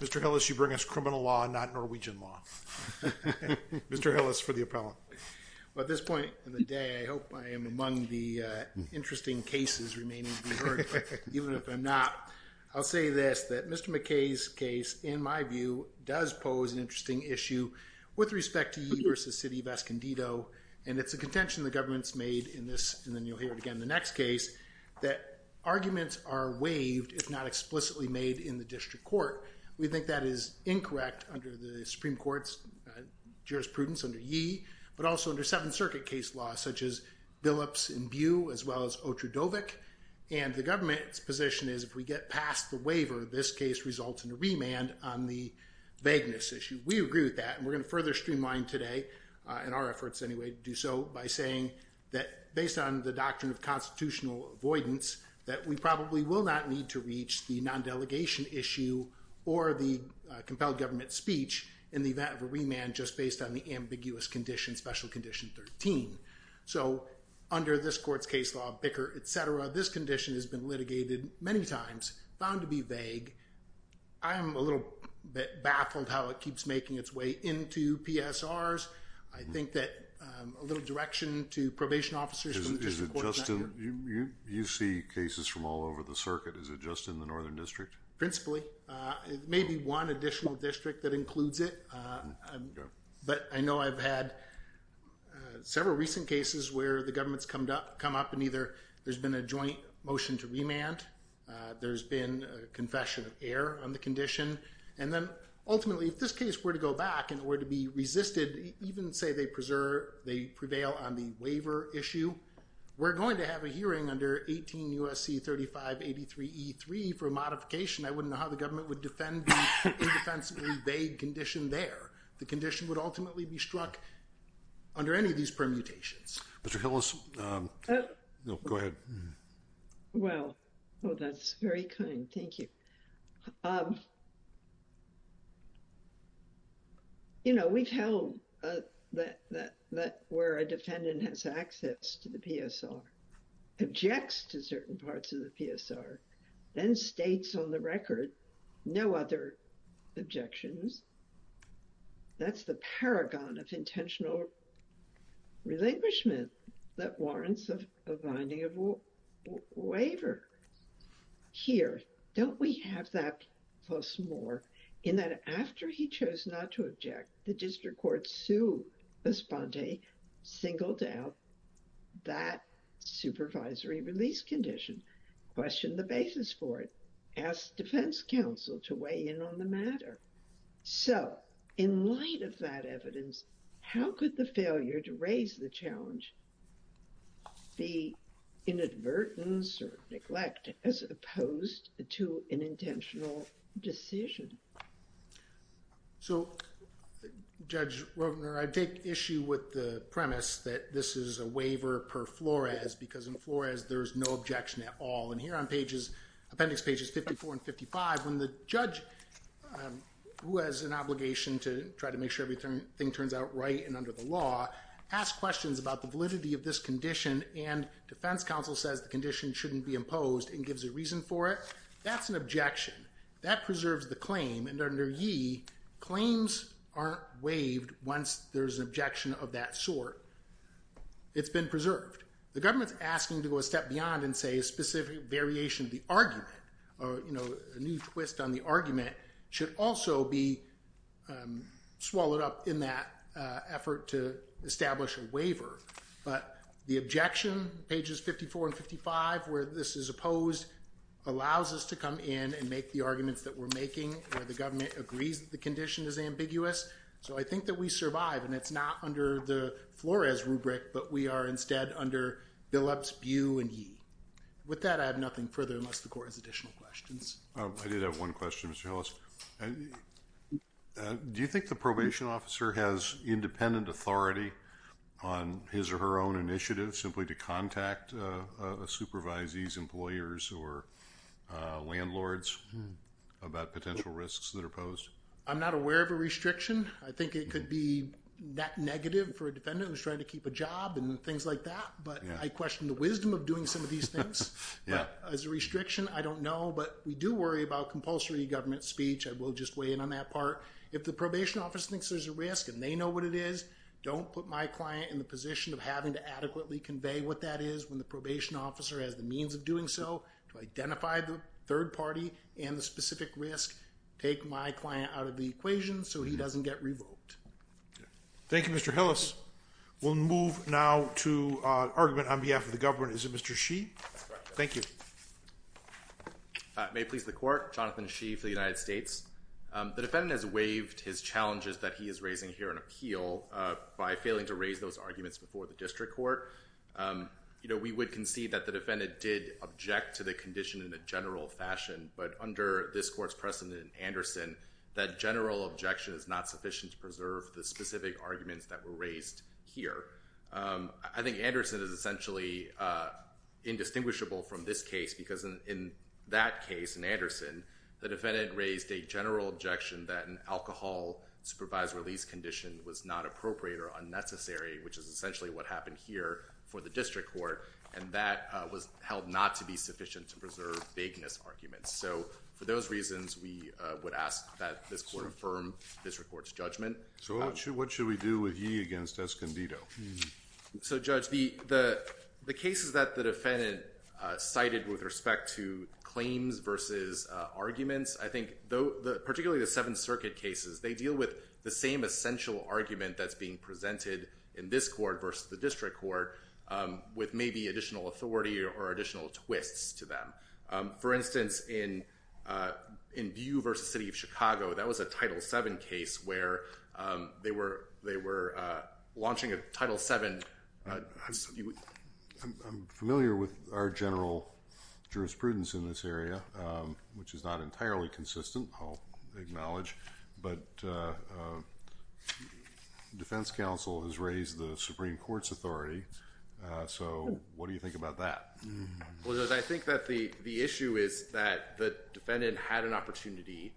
Mr. Hillis, you bring us criminal law, not Norwegian law. Mr. Hillis for the appellant. Well, at this point in the day, I hope I am among the interesting cases remaining to be Even if I'm not, I'll say this, that Mr. McKay's case, in my view, does pose an interesting issue with respect to Yee v. City of Escondido, and it's a contention the government's made in this, and then you'll hear it again in the next case, that arguments are waived if not explicitly made in the district court. We think that is incorrect under the Supreme Court's jurisprudence under Yee, but also under Seventh Circuit case law, such as Billups v. Bew, as well as Otrudovic, and the government's position is if we get past the waiver, this case results in a remand on the vagueness issue. We agree with that, and we're going to further streamline today, in our efforts anyway, to do so by saying that based on the doctrine of constitutional avoidance, that we probably will not need to reach the non-delegation issue or the compelled government speech in the event of a remand just based on the ambiguous condition, special condition 13. So under this court's case law, Bicker, et cetera, this condition has been litigated many times, found to be vague. I am a little bit baffled how it keeps making its way into PSRs. I think that a little direction to probation officers from the district court is not good. You see cases from all over the circuit. Is it just in the northern district? Principally. It may be one additional district that includes it, but I know I've had several recent cases where the government's come up and either there's been a joint motion to remand, there's been a confession of error on the condition, and then ultimately, if this case were to go back and were to be resisted, even say they prevail on the waiver issue, we're going to have a hearing under 18 U.S.C. 3583E3 for a modification. I wouldn't know how the government would defend the indefensibly vague condition there. The condition would ultimately be struck under any of these permutations. Mr. Hillis, go ahead. Well, oh, that's very kind. Thank you. You know, we've held that where a defendant has access to the PSR, objects to certain parts of the PSR, then states on the record no other objections. That's the paragon of intentional relinquishment that warrants a binding of waiver. Here, don't we have that plus more in that after he chose not to object, the district court sued Esponte, singled out that supervisory release condition, questioned the basis for it, asked defense counsel to weigh in on the matter. So, in light of that evidence, how could the failure to raise the challenge, the inadvertence or neglect as opposed to an intentional decision? So, Judge Roebner, I take issue with the premise that this is a waiver per flores, because in flores, there's no objection at all. And here on pages, appendix pages 54 and 55, when the judge, who has an obligation to try to make sure everything turns out right and under the law, asks questions about the validity of this condition and defense counsel says the condition shouldn't be imposed and gives a reason for it, that's an objection. That preserves the claim and under ye, claims aren't waived once there's an objection of that sort. It's been preserved. The government's asking to go a step beyond and say a specific variation of the argument or, you know, a new twist on the argument should also be swallowed up in that effort to establish a waiver. But the objection, pages 54 and 55, where this is opposed, allows us to come in and make the arguments that we're making where the government agrees that the condition is ambiguous. So, I think that we survive and it's not under the flores rubric, but we are instead under billups, bu and ye. With that, I have nothing further unless the court has additional questions. I did have one question, Mr. Hillis. Do you think the probation officer has independent authority on his or her own initiative simply to contact a supervisee's employers or landlords about potential risks that are posed? I'm not aware of a restriction. I think it could be that negative for a defendant who's trying to keep a job and things like that, but I question the wisdom of doing some of these things. As a restriction, I don't know, but we do worry about compulsory government speech. I will just weigh in on that part. If the probation officer thinks there's a risk and they know what it is, don't put my client in the position of having to adequately convey what that is when the probation officer has the means of doing so to identify the third party and the specific risk. Take my client out of the equation so he doesn't get revoked. Thank you, Mr. Hillis. We'll move now to an argument on behalf of the government. Is it Mr. Shee? Thank you. May it please the court. Jonathan Shee for the United States. The defendant has waived his challenges that he is raising here in appeal by failing to raise those arguments before the district court. We would concede that the defendant did object to the condition in a general fashion, but under this court's precedent in Anderson, that general objection is not sufficient to preserve the specific arguments that were raised here. I think Anderson is essentially indistinguishable from this case because in that case, in Anderson, the defendant raised a general objection that an alcohol supervised release condition was not appropriate or unnecessary, which is essentially what happened here for the district court, and that was held not to be sufficient to preserve vagueness arguments. So for those reasons, we would ask that this court affirm this court's judgment. So what should we do with Yee against Escondido? So Judge, the cases that the defendant cited with respect to claims versus arguments, I think, particularly the Seventh Circuit cases, they deal with the same essential argument that's being presented in this court versus the district court with maybe additional authority or additional twists to them. For instance, in Bew v. City of Chicago, that was a Title VII case where they were launching a Title VII. I'm familiar with our general jurisprudence in this area, which is not entirely consistent, I'll acknowledge, but defense counsel has raised the Supreme Court's authority, so what do you think about that? Well, Judge, I think that the issue is that the defendant had an opportunity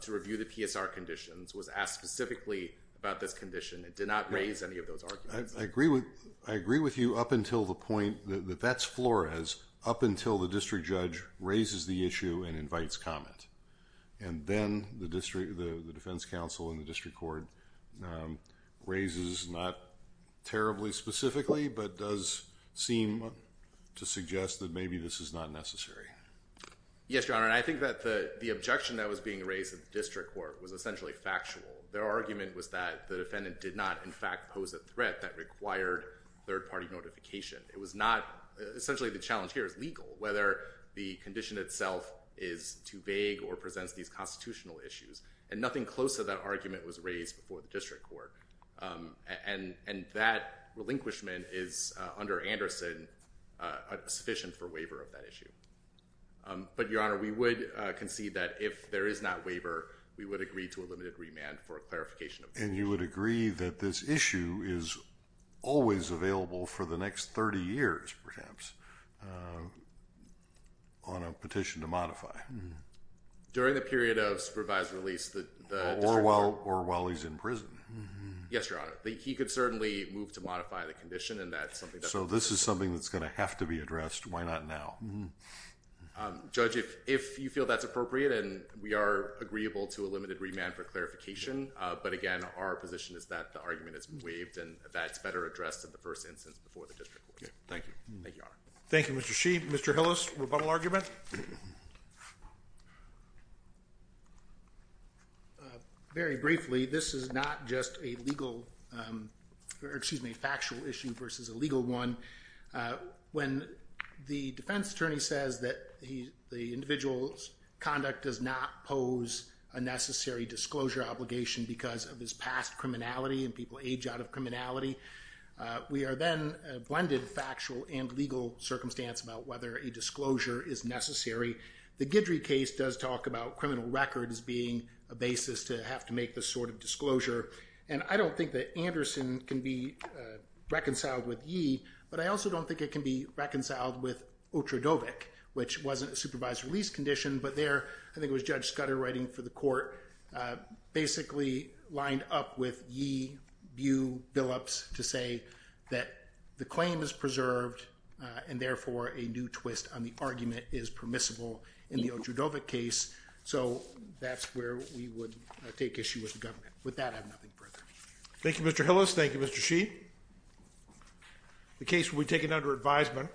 to review the PSR conditions, was asked specifically about this condition, and did not raise any of those arguments. I agree with you up until the point that that's Flores, up until the district judge raises the issue and invites comment, and then the defense counsel and the district court raises not terribly specifically, but does seem to suggest that maybe this is not necessary. Yes, Your Honor, and I think that the objection that was being raised at the district court was essentially factual. Their argument was that the defendant did not, in fact, pose a threat that required third-party notification. It was not—essentially, the challenge here is legal, whether the condition itself is too vague or presents these constitutional issues, and nothing close to that argument was raised before the district court. And that relinquishment is, under Anderson, sufficient for waiver of that issue. But, Your Honor, we would concede that if there is not waiver, we would agree to a limited remand for clarification of the issue. And you would agree that this issue is always available for the next 30 years, perhaps, on a petition to modify? During the period of supervised release, the district court— Or while he's in prison. Yes, Your Honor. He could certainly move to modify the condition, and that's something that— So this is something that's going to have to be addressed. Why not now? Judge, if you feel that's appropriate, and we are agreeable to a limited remand for clarification, but again, our position is that the argument is waived, and that's better addressed in the first instance before the district court. Thank you. Thank you, Your Honor. Thank you, Mr. Sheehy. Mr. Hillis, rebuttal argument? Very briefly, this is not just a factual issue versus a legal one. When the defense attorney says that the individual's conduct does not pose a necessary disclosure obligation because of his past criminality, and people age out of criminality, we are factual and legal circumstance about whether a disclosure is necessary. The Guidry case does talk about criminal records being a basis to have to make this sort of disclosure, and I don't think that Anderson can be reconciled with Yee, but I also don't think it can be reconciled with Otradovic, which wasn't a supervised release condition, but there, I think it was Judge Scudder writing for the court, basically lined up with Yee, Bu, Billups, to say that the claim is preserved, and therefore, a new twist on the argument is permissible in the Otradovic case, so that's where we would take issue with the government. With that, I have nothing further. Thank you, Mr. Hillis. Thank you, Mr. Sheehy. The case will be taken under advisement.